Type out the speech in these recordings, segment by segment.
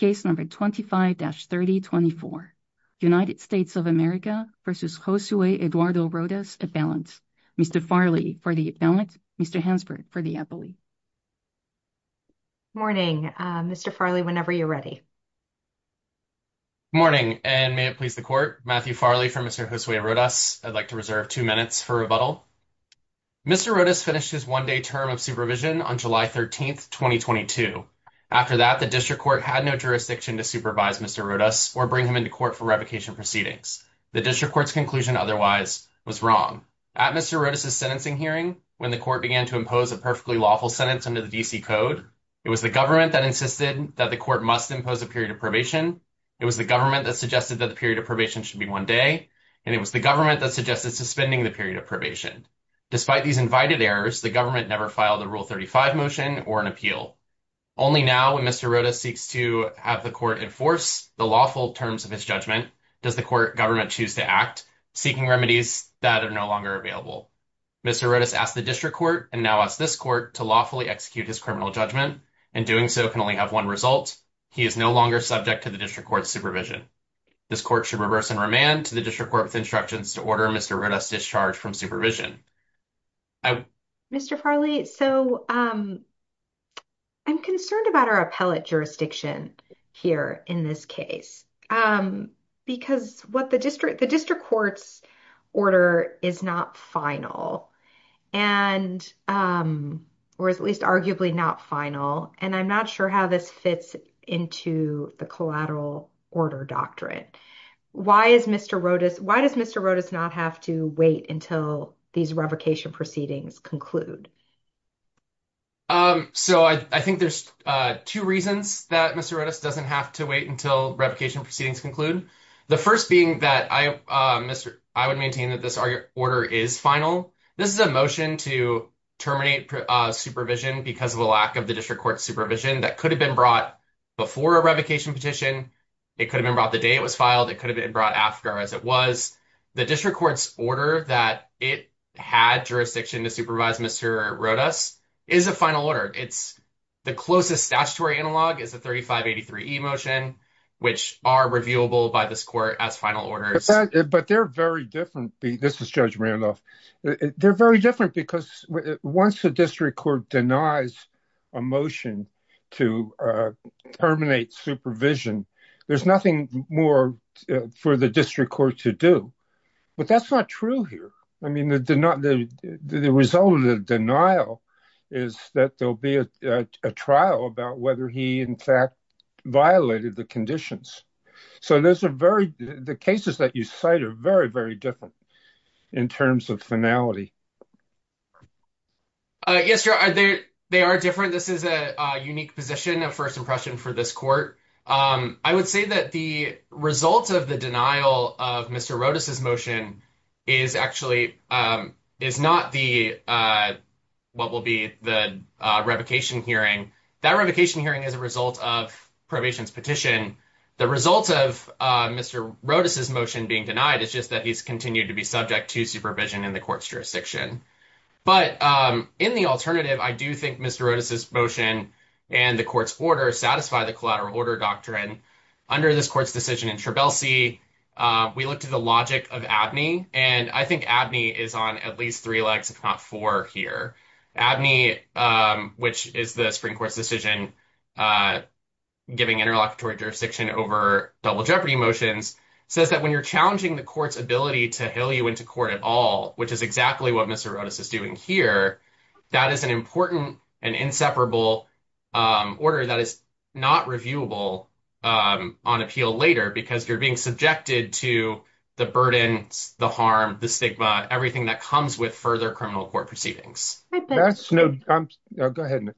25-3024. United States of America v. Josue Eduardo Rodas, appellant. Mr. Farley, for the appellant. Mr. Hansberg, for the appellate. Good morning. Mr. Farley, whenever you're ready. Good morning, and may it please the Court, Matthew Farley for Mr. Josue Rodas. I'd like to reserve two minutes for rebuttal. Mr. Rodas finished his one-day term of supervision on July 13, 2022. After that, the District Court had no jurisdiction to supervise Mr. Rodas or bring him into court for revocation proceedings. The District Court's conclusion otherwise was wrong. At Mr. Rodas's sentencing hearing, when the Court began to impose a perfectly lawful sentence under the D.C. Code, it was the government that insisted that the Court must impose a period of probation, it was the government that suggested that the period of probation should be one day, and it was the government that suggested suspending the period of probation. Despite these invited errors, the government never filed a Rule 35 motion or an appeal. Only now, when Mr. Rodas seeks to have the Court enforce the lawful terms of his judgment, does the Court government choose to act, seeking remedies that are no longer available. Mr. Rodas asked the District Court, and now asks this Court, to lawfully execute his criminal judgment, and doing so can only have one result. He is no longer subject to the District Court's supervision. This Court should reverse and remand to the District Court with instructions to order Mr. Rodas discharged from supervision. Mr. Farley, so I'm concerned about our appellate jurisdiction here in this case, because what the District Court's order is not final, or at least arguably not final, and I'm not sure how this fits into the collateral order doctrine. Why does Mr. Rodas not have to wait until these revocation proceedings conclude? So I think there's two reasons that Mr. Rodas doesn't have to wait until revocation proceedings conclude. The first being that I would maintain that this order is final. This is a motion to terminate supervision because of the lack of the District Court's supervision that could have been brought before a revocation petition. It could have been brought the day it was that it had jurisdiction to supervise Mr. Rodas is a final order. It's the closest statutory analog is the 3583e motion, which are reviewable by this Court as final orders. But they're very different. This is Judge Randolph. They're very different because once the District Court denies a motion to terminate supervision, there's nothing more for the District Court to do. But that's not true here. I mean, the result of the denial is that there'll be a trial about whether he in fact violated the conditions. So the cases that you cite are very, very different in terms of finality. Yes, Your Honor, they are different. This is a unique position, a first impression for this Court. I would say that the result of the denial of Mr. Rodas's motion is actually is not the what will be the revocation hearing. That revocation hearing is a result of probation's petition. The result of Mr. Rodas's motion being denied is just that he's continued to be subject to supervision in the Court's jurisdiction. But in the alternative, I do think Mr. Rodas's motion and the Court's order satisfy the collateral order doctrine. Under this Court's decision in Trebelsi, we looked at the logic of Abney. And I think Abney is on at least three legs, if not four here. Abney, which is the Supreme Court's decision giving interlocutory jurisdiction over double jeopardy motions, says that when you're challenging the Court's ability to hill you into court at all, which is exactly what Mr. Rodas is doing here, that is an important and inseparable order that is not reviewable on appeal later because you're being subjected to the burden, the harm, the stigma, everything that comes with further criminal court proceedings. Go ahead. No, go ahead.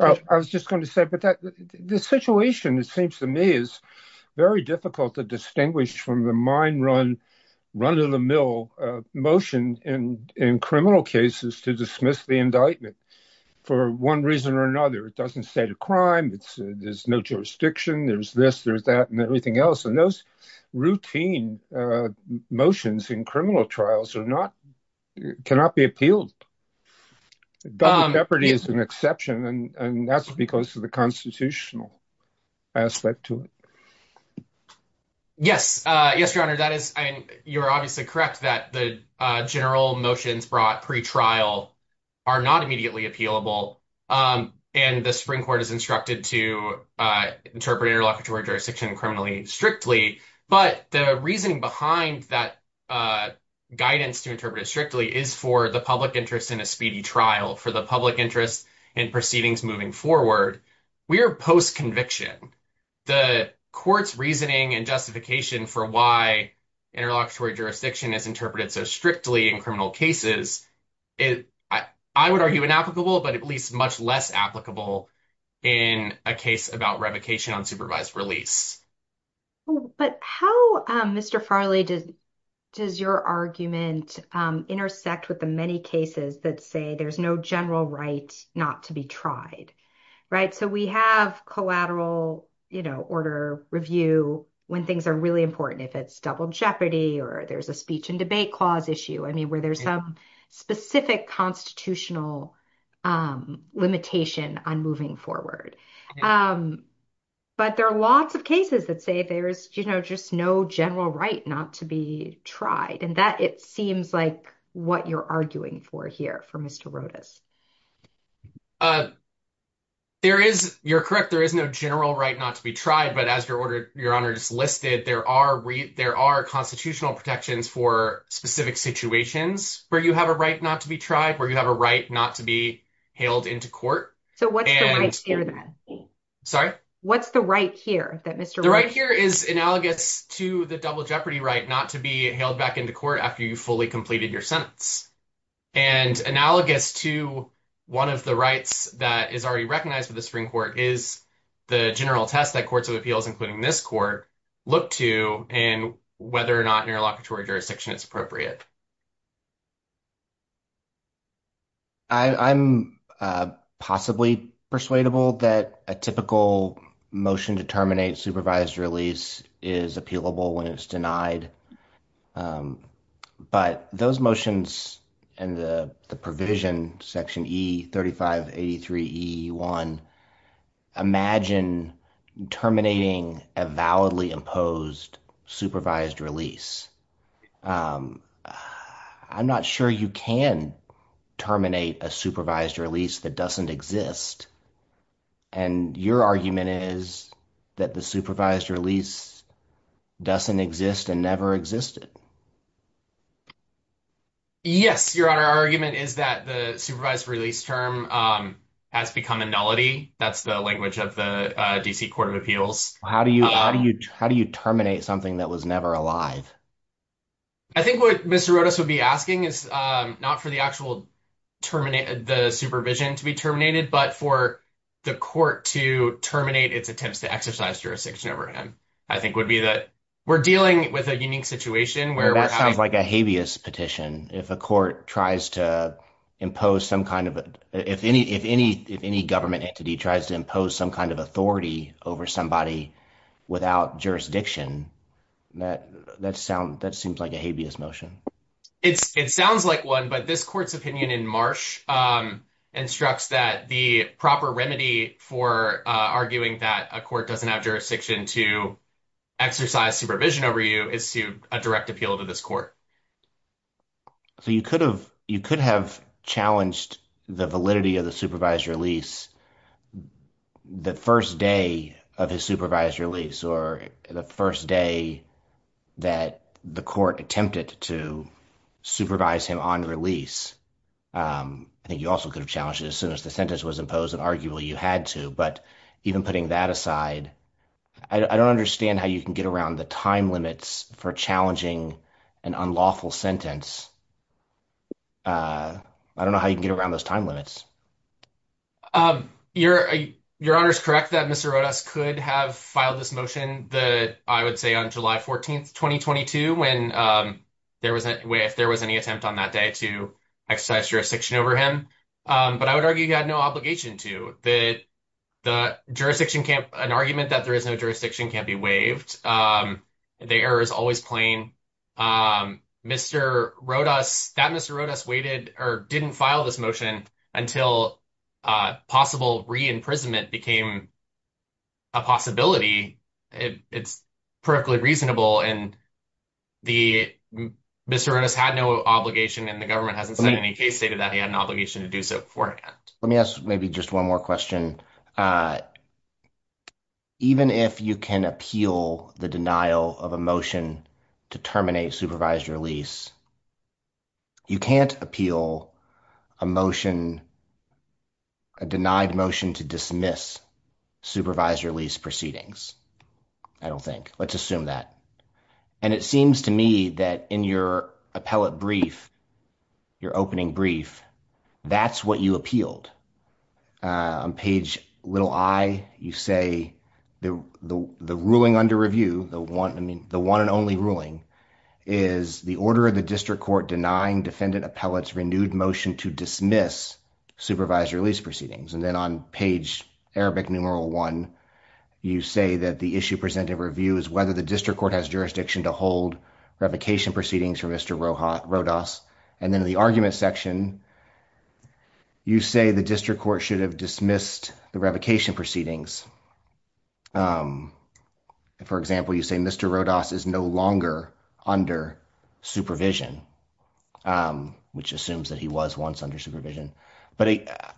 I was just going to say, but the situation, it seems to me, is very difficult to distinguish from the mine run, run of the mill motion in criminal cases to dismiss the indictment for one reason or another. It doesn't state a crime, there's no jurisdiction, there's this, there's that, and everything else. And those routine motions in criminal trials cannot be appealed. Double jeopardy is an exception, and that's because of the constitutional aspect to it. Yes. Yes, Your Honor, that is, and you're obviously correct that the general motions brought pre-trial are not immediately appealable. And the Supreme Court is instructed to interpret interlocutory jurisdiction criminally strictly. But the reasoning behind that guidance to interpret it strictly is for the public interest in a speedy trial, for the public interest in proceedings moving forward. We are post-conviction. The court's reasoning and justification for why interlocutory jurisdiction is interpreted so strictly in criminal cases is, I would argue, inapplicable, but at least much less applicable in a case about revocation on supervised release. But how, Mr. Farley, does your argument intersect with the many cases that say there's no general right not to be tried, right? So we have collateral, you know, order review when things are really important, if it's double jeopardy or there's a speech and debate clause issue, I mean, where there's some specific constitutional limitation on moving forward. But there are lots of cases that say there's, you know, just no general right not to be tried. And it seems like what you're arguing for here, for Mr. Rodas. There is, you're correct, there is no general right not to be tried. But as your Honor just listed, there are constitutional protections for specific situations where you have a right not to be tried, where you have a right not to be hailed into court. So what's the right here, then? Sorry? What's the right here that Mr. Rodas- The right here is analogous to the double jeopardy right not to be hailed back into court after you've fully completed your sentence. And analogous to one of the rights that is already recognized with the Supreme Court is the general test that courts of appeals, including this court, look to in whether or not interlocutory jurisdiction is appropriate. I'm possibly persuadable that a typical motion to terminate supervised release is appealable when it's denied. But those motions and the provision, section E3583E1, imagine terminating a validly I'm not sure you can terminate a supervised release that doesn't exist. And your argument is that the supervised release doesn't exist and never existed. Yes, Your Honor, our argument is that the supervised release term has become a nullity. That's the language of the D.C. Court of Appeals. How do you how do you how do you terminate something that was never alive? I think what Mr. Rodas would be asking is not for the actual termination, the supervision to be terminated, but for the court to terminate its attempts to exercise jurisdiction over him. I think would be that we're dealing with a unique situation where that sounds like a habeas petition. If a court tries to impose some kind of if any if any if any government entity tries to impose some kind of authority over somebody without jurisdiction, that that sounds that seems like a habeas motion. It's it sounds like one. But this court's opinion in Marsh instructs that the proper remedy for arguing that a court doesn't have jurisdiction to exercise supervision over you is to a direct appeal to this court. So you could have you could have challenged the validity of the supervised release the first day of his supervised release or the first day that the court attempted to supervise him on release. I think you also could have challenged as soon as the sentence was imposed and arguably you had to. But even putting that aside, I don't understand how you can get around the time limits for challenging an unlawful sentence. I don't know how you can get around those time limits. Your your honor is correct that Mr. Rodas could have filed this motion that I would say on July 14th, 2022 when there was a way if there was any attempt on that day to exercise jurisdiction over him. But I would argue you had no obligation to the the jurisdiction camp. An argument that there is no jurisdiction can be waived. The error is always plain. Mr. Rodas that Mr. Rodas waited or didn't file this motion until possible re-imprisonment became a possibility. It's perfectly reasonable and the Mr. Rodas had no obligation and the government hasn't said any case stated that he had an obligation to do so beforehand. Let me ask maybe just one more question. Even if you can appeal the denial of a motion to terminate supervised release, you can't appeal a motion, a denied motion to dismiss supervised release proceedings. I don't think. Let's assume that. And it seems to me that in your appellate brief, your opening brief, that's what you appealed. On page little i, you say the the ruling under is the order of the district court denying defendant appellate's renewed motion to dismiss supervised release proceedings. And then on page Arabic numeral one, you say that the issue presented review is whether the district court has jurisdiction to hold revocation proceedings for Mr. Rodas. And then the argument section, you say the district court should have dismissed the revocation proceedings. For example, you say Mr. Rodas is no longer under supervision, which assumes that he was once under supervision. But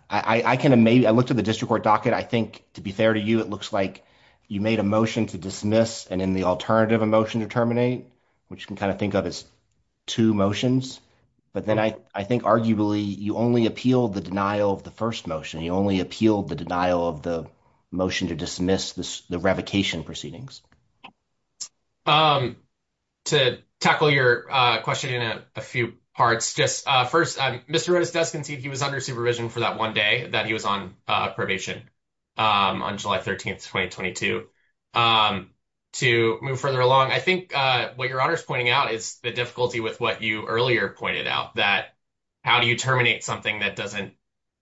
I looked at the district court docket. I think to be fair to you, it looks like you made a motion to dismiss and in the alternative, a motion to terminate, which you can kind of think of as two motions. But then I think arguably, you only appealed the denial of the first motion. You only appealed the denial of the motion to dismiss the revocation proceedings. To tackle your question in a few parts, just first, Mr. Rodas does concede he was under supervision for that one day that he was on probation on July 13th, 2022. To move further along, I think what your honor is pointing out is the difficulty with what you earlier pointed out, that how do you terminate something that doesn't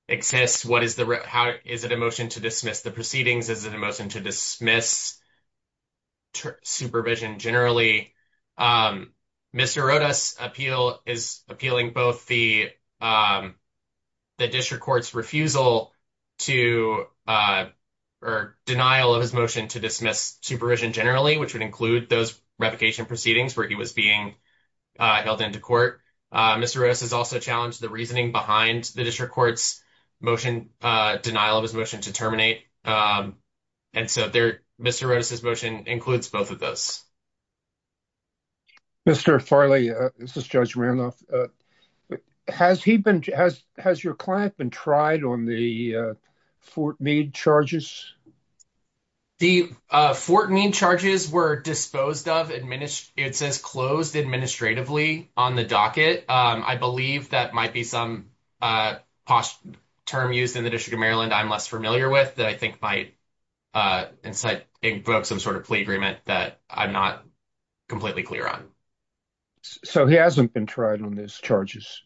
exist? How is it a motion to dismiss the proceedings? Is it a motion to dismiss supervision generally? Mr. Rodas is appealing both the district court's refusal to or denial of his motion to dismiss supervision generally, which would include those revocation proceedings where he was being held into court. Mr. Rodas has also challenged the reasoning behind the district court's motion, denial of his motion to terminate. And so there, Mr. Rodas' motion includes both of those. Mr. Farley, this is Judge Randolph. Has your client been tried on the Fort Meade charges? The Fort Meade charges were disposed of. It says closed administratively on the docket. I believe that might be some term used in the District of Maryland I'm less familiar with that I think might incite some sort of plea agreement that I'm not completely clear on. So he hasn't been tried on those charges?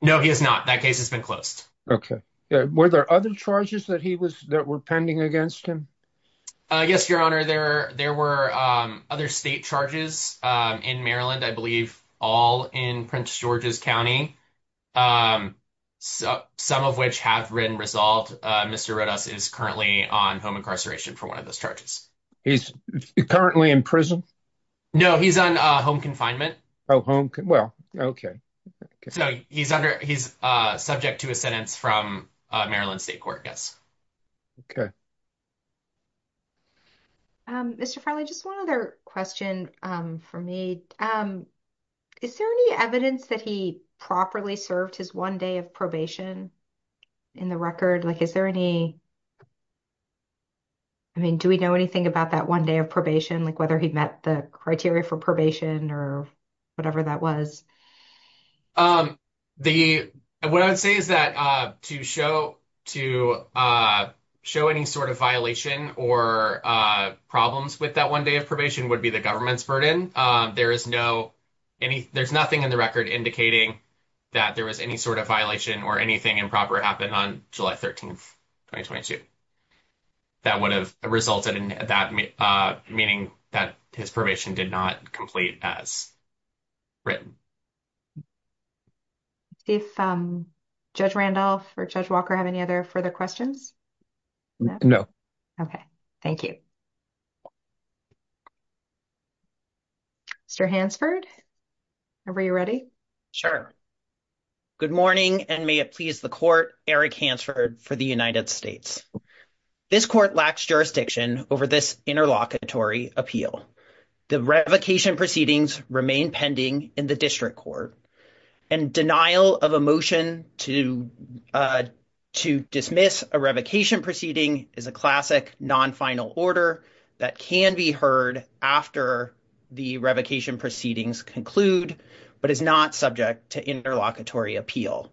No, he has not. That case has been closed. Okay. Were there other charges that were pending against him? Yes, Your Honor. There were other state charges in Maryland, I believe, all in Prince George's County, some of which have been resolved. Mr. Rodas is currently on home incarceration for one of those charges. He's currently in prison? No, he's on home confinement. Oh, home. Well, okay. So he's subject to a sentence from Maryland State Court, yes. Okay. Mr. Farley, just one other question for me. Is there any evidence that he properly served his one day of probation in the record? Like, is there any, I mean, do we know anything about that one day of probation, like whether he met the criteria for probation or whatever that was? The, what I would say is that to show any sort of violation or problems with that one day of probation would be the government's burden. There is no, there's nothing in the record indicating that there was any sort of violation or anything improper happened on July 13, 2022, that would have resulted in that, meaning that his probation did not complete as written. If Judge Randolph or Judge Walker have any other further questions? No. Okay. Thank you. Mr. Hansford, are we ready? Sure. Good morning, and may it please the court, Eric Hansford for the United States. This court lacks jurisdiction over this interlocutory appeal. The revocation proceedings remain pending in the district court, and denial of a motion to dismiss a revocation proceeding is a classic non-final order that can be heard after the revocation proceedings conclude, but is not subject to interlocutory appeal.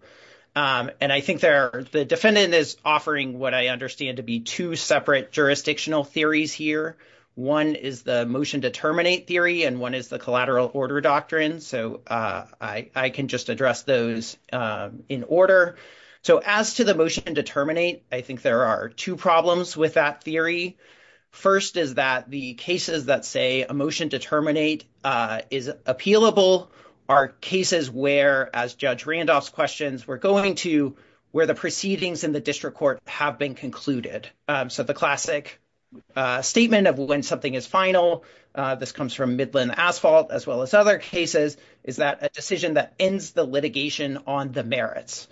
And I think the defendant is offering what I understand to be two separate jurisdictional theories here. One is the motion determinate theory, and one is the collateral order doctrine. So I can just address those in order. So as to the motion determinate, I think there are two problems with that theory. First is that the cases that say a motion determinate is appealable are cases where, as Judge Randolph's questions, we're going to where the proceedings in the district court have been concluded. So the classic statement of when something is final, this comes from Midland Asphalt, as well as other cases, is that a decision that ends the litigation on the merits.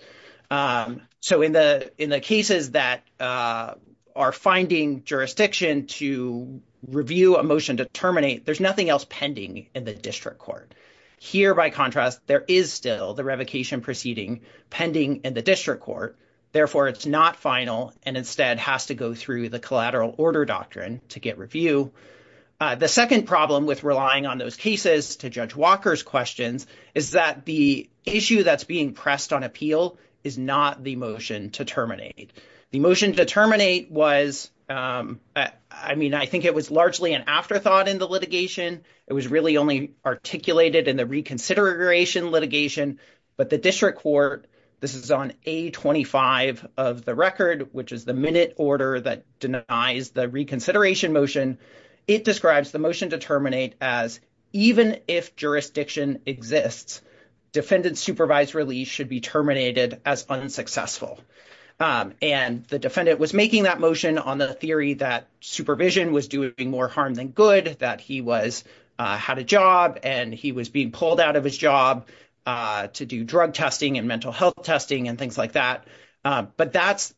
So in the cases that are finding jurisdiction to review a motion to terminate, there's nothing else pending in the district court. Here, by contrast, there is still the revocation proceeding pending in the district court. Therefore, it's not final and instead has to go through the collateral order doctrine to get review. The second problem with relying on those cases, to Judge Walker's questions, is that the issue that's being pressed on appeal is not the motion to terminate. The motion to terminate was, I mean, I think it was largely an afterthought in the litigation. It was really only articulated in the reconsideration litigation, but the district court, this is on A25 of the record, which is the minute order that denies the reconsideration motion. It describes the motion to terminate as, even if jurisdiction exists, defendant supervised release should be terminated as unsuccessful. And the defendant was making that motion on the theory that supervision was doing more harm than good, that he had a job and he was being pulled out of his job to do drug testing and mental health testing and things like that. But that's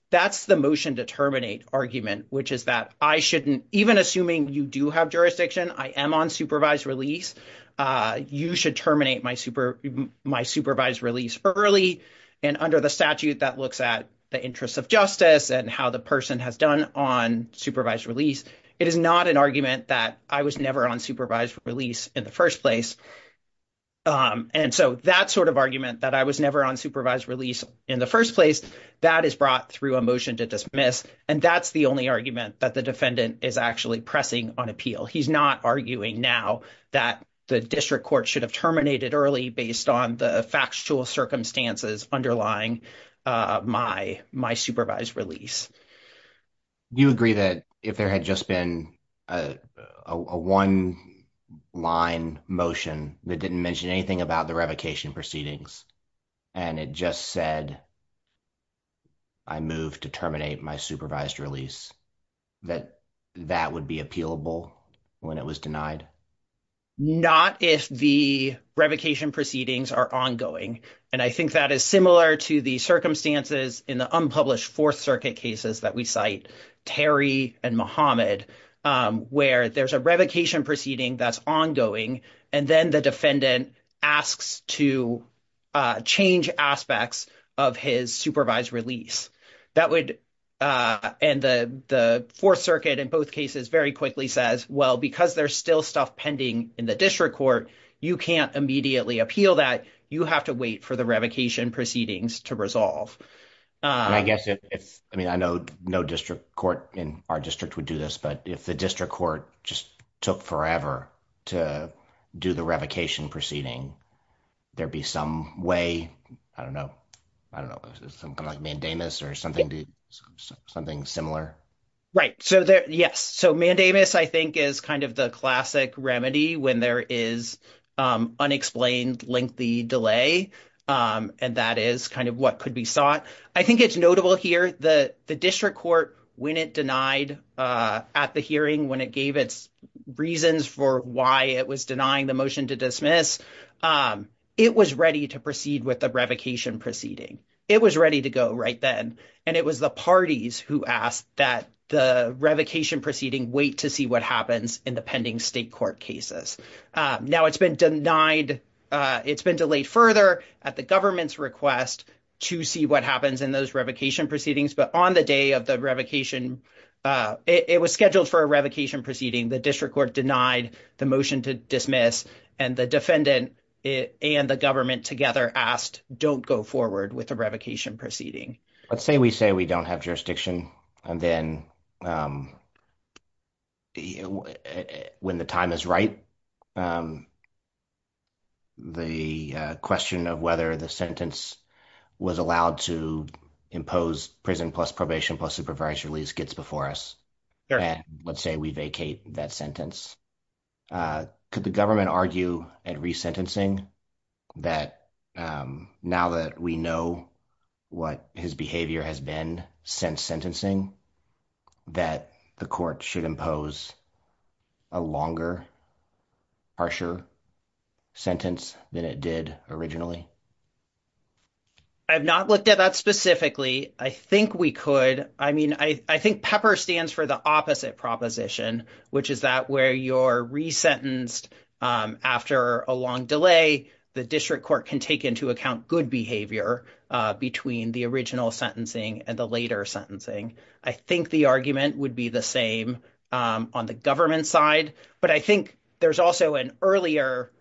the motion to terminate argument, which is that I shouldn't, even assuming you do have jurisdiction, I am on supervised release, you should terminate my supervised release early. And under the statute that looks at the interests of justice and how the on supervised release in the first place. And so that sort of argument that I was never on supervised release in the first place, that is brought through a motion to dismiss. And that's the only argument that the defendant is actually pressing on appeal. He's not arguing now that the district court should have terminated early based on the factual circumstances underlying my supervised release. You agree that if there had just been a one line motion that didn't mention anything about the revocation proceedings and it just said, I move to terminate my supervised release, that that would be appealable when it was denied? Not if the revocation proceedings are ongoing. And I think that is similar to the circumstances in the unpublished Fourth Circuit cases that we cite, Terry and Mohammed, where there's a revocation proceeding that's ongoing, and then the defendant asks to change aspects of his supervised release. That would end the Fourth Circuit in both cases very quickly says, well, because there's still stuff pending in the court, we do have to wait for the revocation proceedings to resolve. I guess it's, I mean, I know no district court in our district would do this, but if the district court just took forever to do the revocation proceeding, there'd be some way, I don't know, I don't know, something like mandamus or something similar. Right. So there, yes. So mandamus, I think, is kind of the classic remedy when there is unexplained lengthy delay. And that is kind of what could be sought. I think it's notable here, the district court, when it denied at the hearing, when it gave its reasons for why it was denying the motion to dismiss, it was ready to proceed with the revocation proceeding. It was ready to go right then. And it was the parties who asked that the revocation proceeding wait to see what happens in the pending state court cases. Now it's been denied, it's been delayed further at the government's request to see what happens in those revocation proceedings. But on the day of the revocation, it was scheduled for a revocation proceeding. The district court denied the motion to dismiss and the defendant and the government together asked, don't go forward with the revocation proceeding. Let's say we say we don't have jurisdiction and then when the time is right, the question of whether the sentence was allowed to impose prison plus probation plus supervisory release gets before us. And let's say we vacate that sentence. Could the government argue at resentencing that now that we know what his behavior has been since sentencing, that the court should impose a longer, harsher sentence than it did originally? I've not looked at that specifically. I think we could. I mean, I think PEPR stands for the opposite proposition, which is that where you're resentenced after a long delay, the district court can take into account good behavior between the original sentencing and the later sentencing. I think the argument would be the same on the government side, but I think there's also an earlier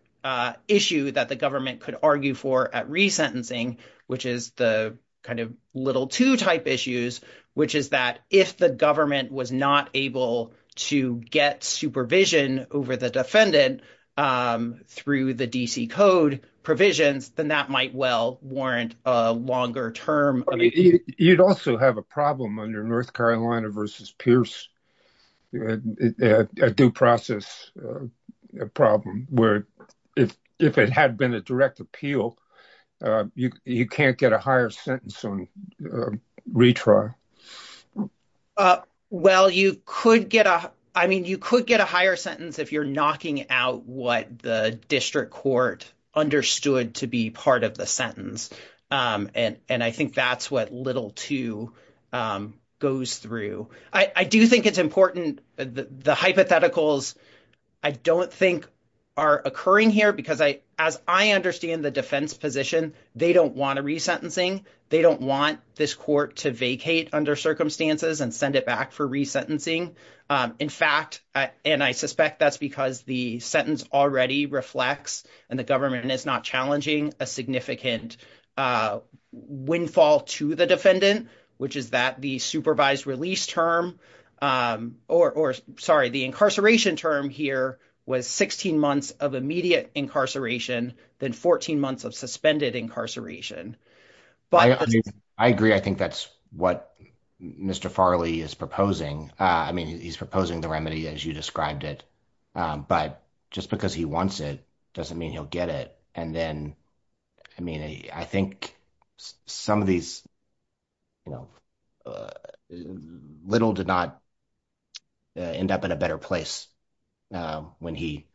issue that the government could argue for at resentencing, which is the kind of little two type issues, which is that if the government was not able to get supervision over the defendant through the DC code provisions, then that might well warrant a longer term. You'd also have a problem under North Carolina versus Pierce, a due process problem where if it had been a direct appeal, you can't get a higher sentence on retrial. Well, you could get a higher sentence if you're knocking out what the district court understood to be part of the sentence. I think that's what little two goes through. I do think it's important the hypotheticals I don't think are occurring here because as I understand the defense position, they don't want a resentencing. They don't want this court to vacate under circumstances and send it back for resentencing. In fact, and I suspect that's because the sentence already reflects and the government is not challenging a significant windfall to the defendant, which is that the supervised release term or sorry, the incarceration term here was 16 months of immediate incarceration than 14 months of suspended incarceration. I agree. I think that's what Mr. Farley is proposing. I mean, he's proposing the remedy as you described it, but just because he wants it doesn't mean he'll get it. And then, I mean, I think some of these, you know, little did not end up in a better place when he,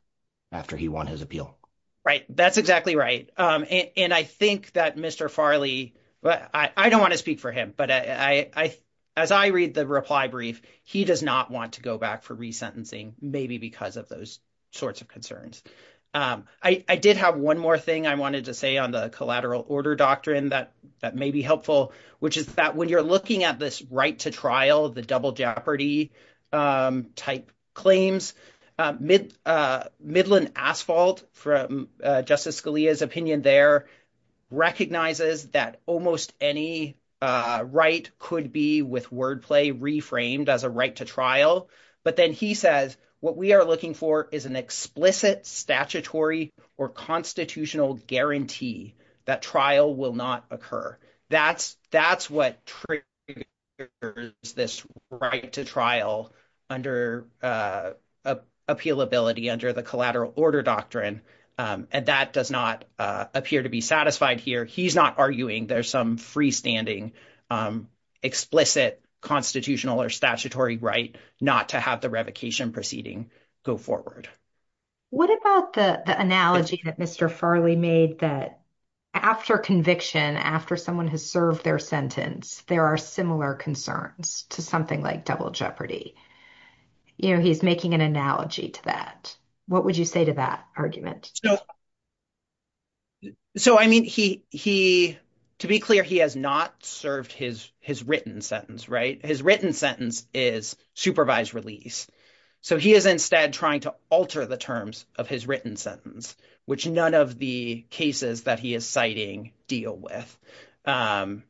after he won his appeal. Right. That's exactly right. And I think that Mr. Farley, I don't want to speak for him, but I, as I read the reply brief, he does not want to go back for resentencing, maybe because of those sorts of concerns. I did have one more thing I wanted to say on the collateral order doctrine that may be helpful, which is that when you're looking at this right to trial, the double jeopardy type claims, Midland Asphalt from Justice Scalia's opinion there recognizes that almost any right could be, with wordplay, reframed as a right to trial. But then he says, what we are looking for is an explicit statutory or constitutional guarantee that trial will not occur. That's what triggers this right to trial under appealability, under the collateral order doctrine. And that does not appear to be satisfied here. He's not arguing there's some freestanding explicit constitutional or statutory right not to have the revocation proceeding go forward. What about the analogy that Mr. Farley made that after conviction, after someone has served their sentence, there are similar concerns to something like double jeopardy. He's making an analogy to that. What would you say to that argument? So, I mean, to be clear, he has not served his written sentence, right? His written sentence is supervised release. So he is instead trying to alter the terms of his written sentence, which none of the cases that he is citing deal with.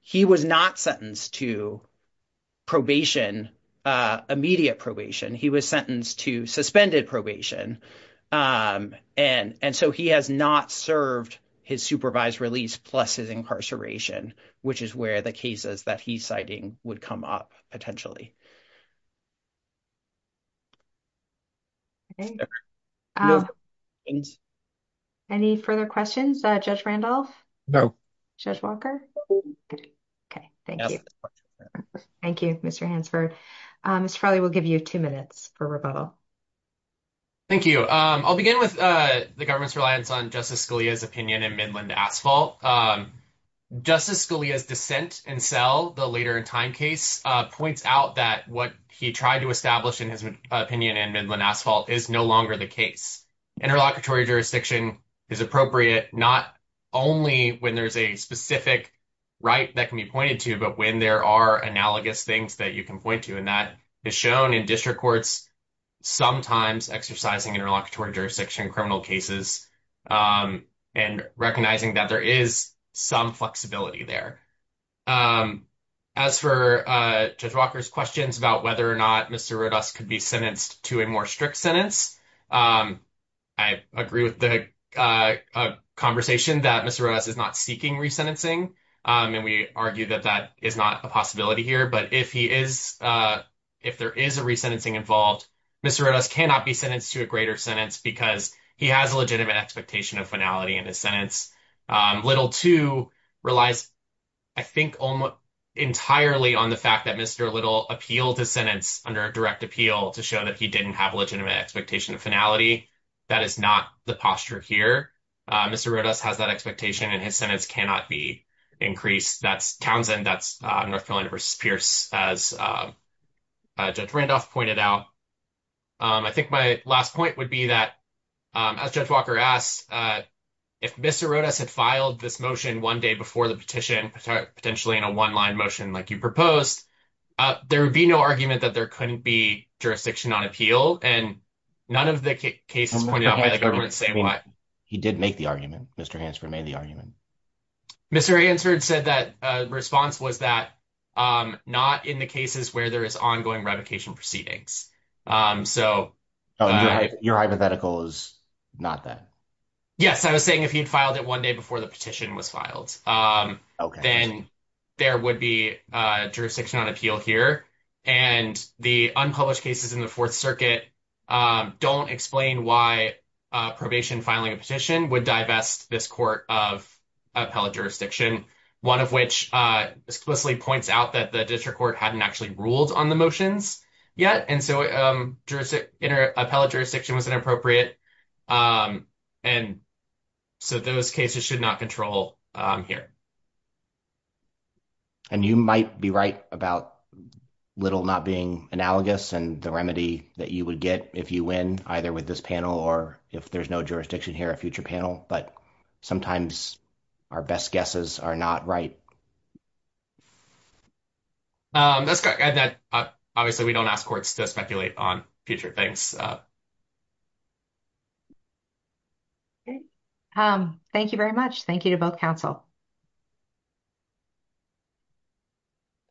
He was not sentenced to probation, immediate probation. He was sentenced to suspended probation. And so he has not served his supervised release plus his incarceration, which is where the cases that he's citing would come up potentially. Any further questions, Judge Randolph? No. Judge Walker? Okay, thank you. Thank you, Mr. Hansford. Mr. Farley, we'll give you two minutes for rebuttal. Thank you. I'll begin with the government's reliance on Justice Scalia's opinion in Midland Asphalt. Justice Scalia's dissent in cell, the later in time case, points out that what he tried to establish in his opinion in Midland Asphalt is no longer the case. Interlocutory jurisdiction is appropriate not only when there's a specific right that can be pointed to, but when there are analogous things that you can point to. And that is shown in district courts sometimes exercising interlocutory jurisdiction in criminal cases and recognizing that there is some flexibility there. As for Judge Walker's questions about whether or not Mr. Rodas could be sentenced to a more strict sentence, I agree with the conversation that Mr. Rodas is not seeking resentencing. And we argue that that is not a possibility here. But if there is a resentencing involved, Mr. Rodas cannot be sentenced to a greater sentence because he has a legitimate expectation of finality in his sentence. Little, too, relies, I think, entirely on the fact that Mr. Little appealed his sentence under direct appeal to show that he didn't have a legitimate expectation of finality. That is not the posture here. Mr. Rodas has that expectation and his sentence cannot be increased. That's Townsend. That's North Carolina versus Pierce, as Judge Randolph pointed out. I think my last point would be that, as Judge Walker asked, if Mr. Rodas had filed this motion one day before the petition, potentially in a one-line motion like you proposed, there would be no argument that there couldn't be jurisdiction on appeal. And none of the cases pointed out by the government say why. He did make the argument. Mr. Hansford made the argument. Mr. Hansford said that response was that not in the cases where there is ongoing revocation proceedings. So your hypothetical is not that. Yes, I was saying if he'd filed it one day before the petition was filed, then there would be jurisdiction on appeal here. And the unpublished cases in the Fourth Circuit don't explain why probation filing a petition would divest this court of appellate jurisdiction, one of which explicitly points out that the district court hadn't actually ruled on the motions yet. And so appellate jurisdiction was inappropriate. And so those cases should not control here. And you might be right about little not being analogous and the remedy that you would get if you win, either with this panel or if there's no jurisdiction here, a future panel. But sometimes our best guesses are not right. That obviously we don't ask courts to speculate on future things. Thank you very much. Thank you to both counsel.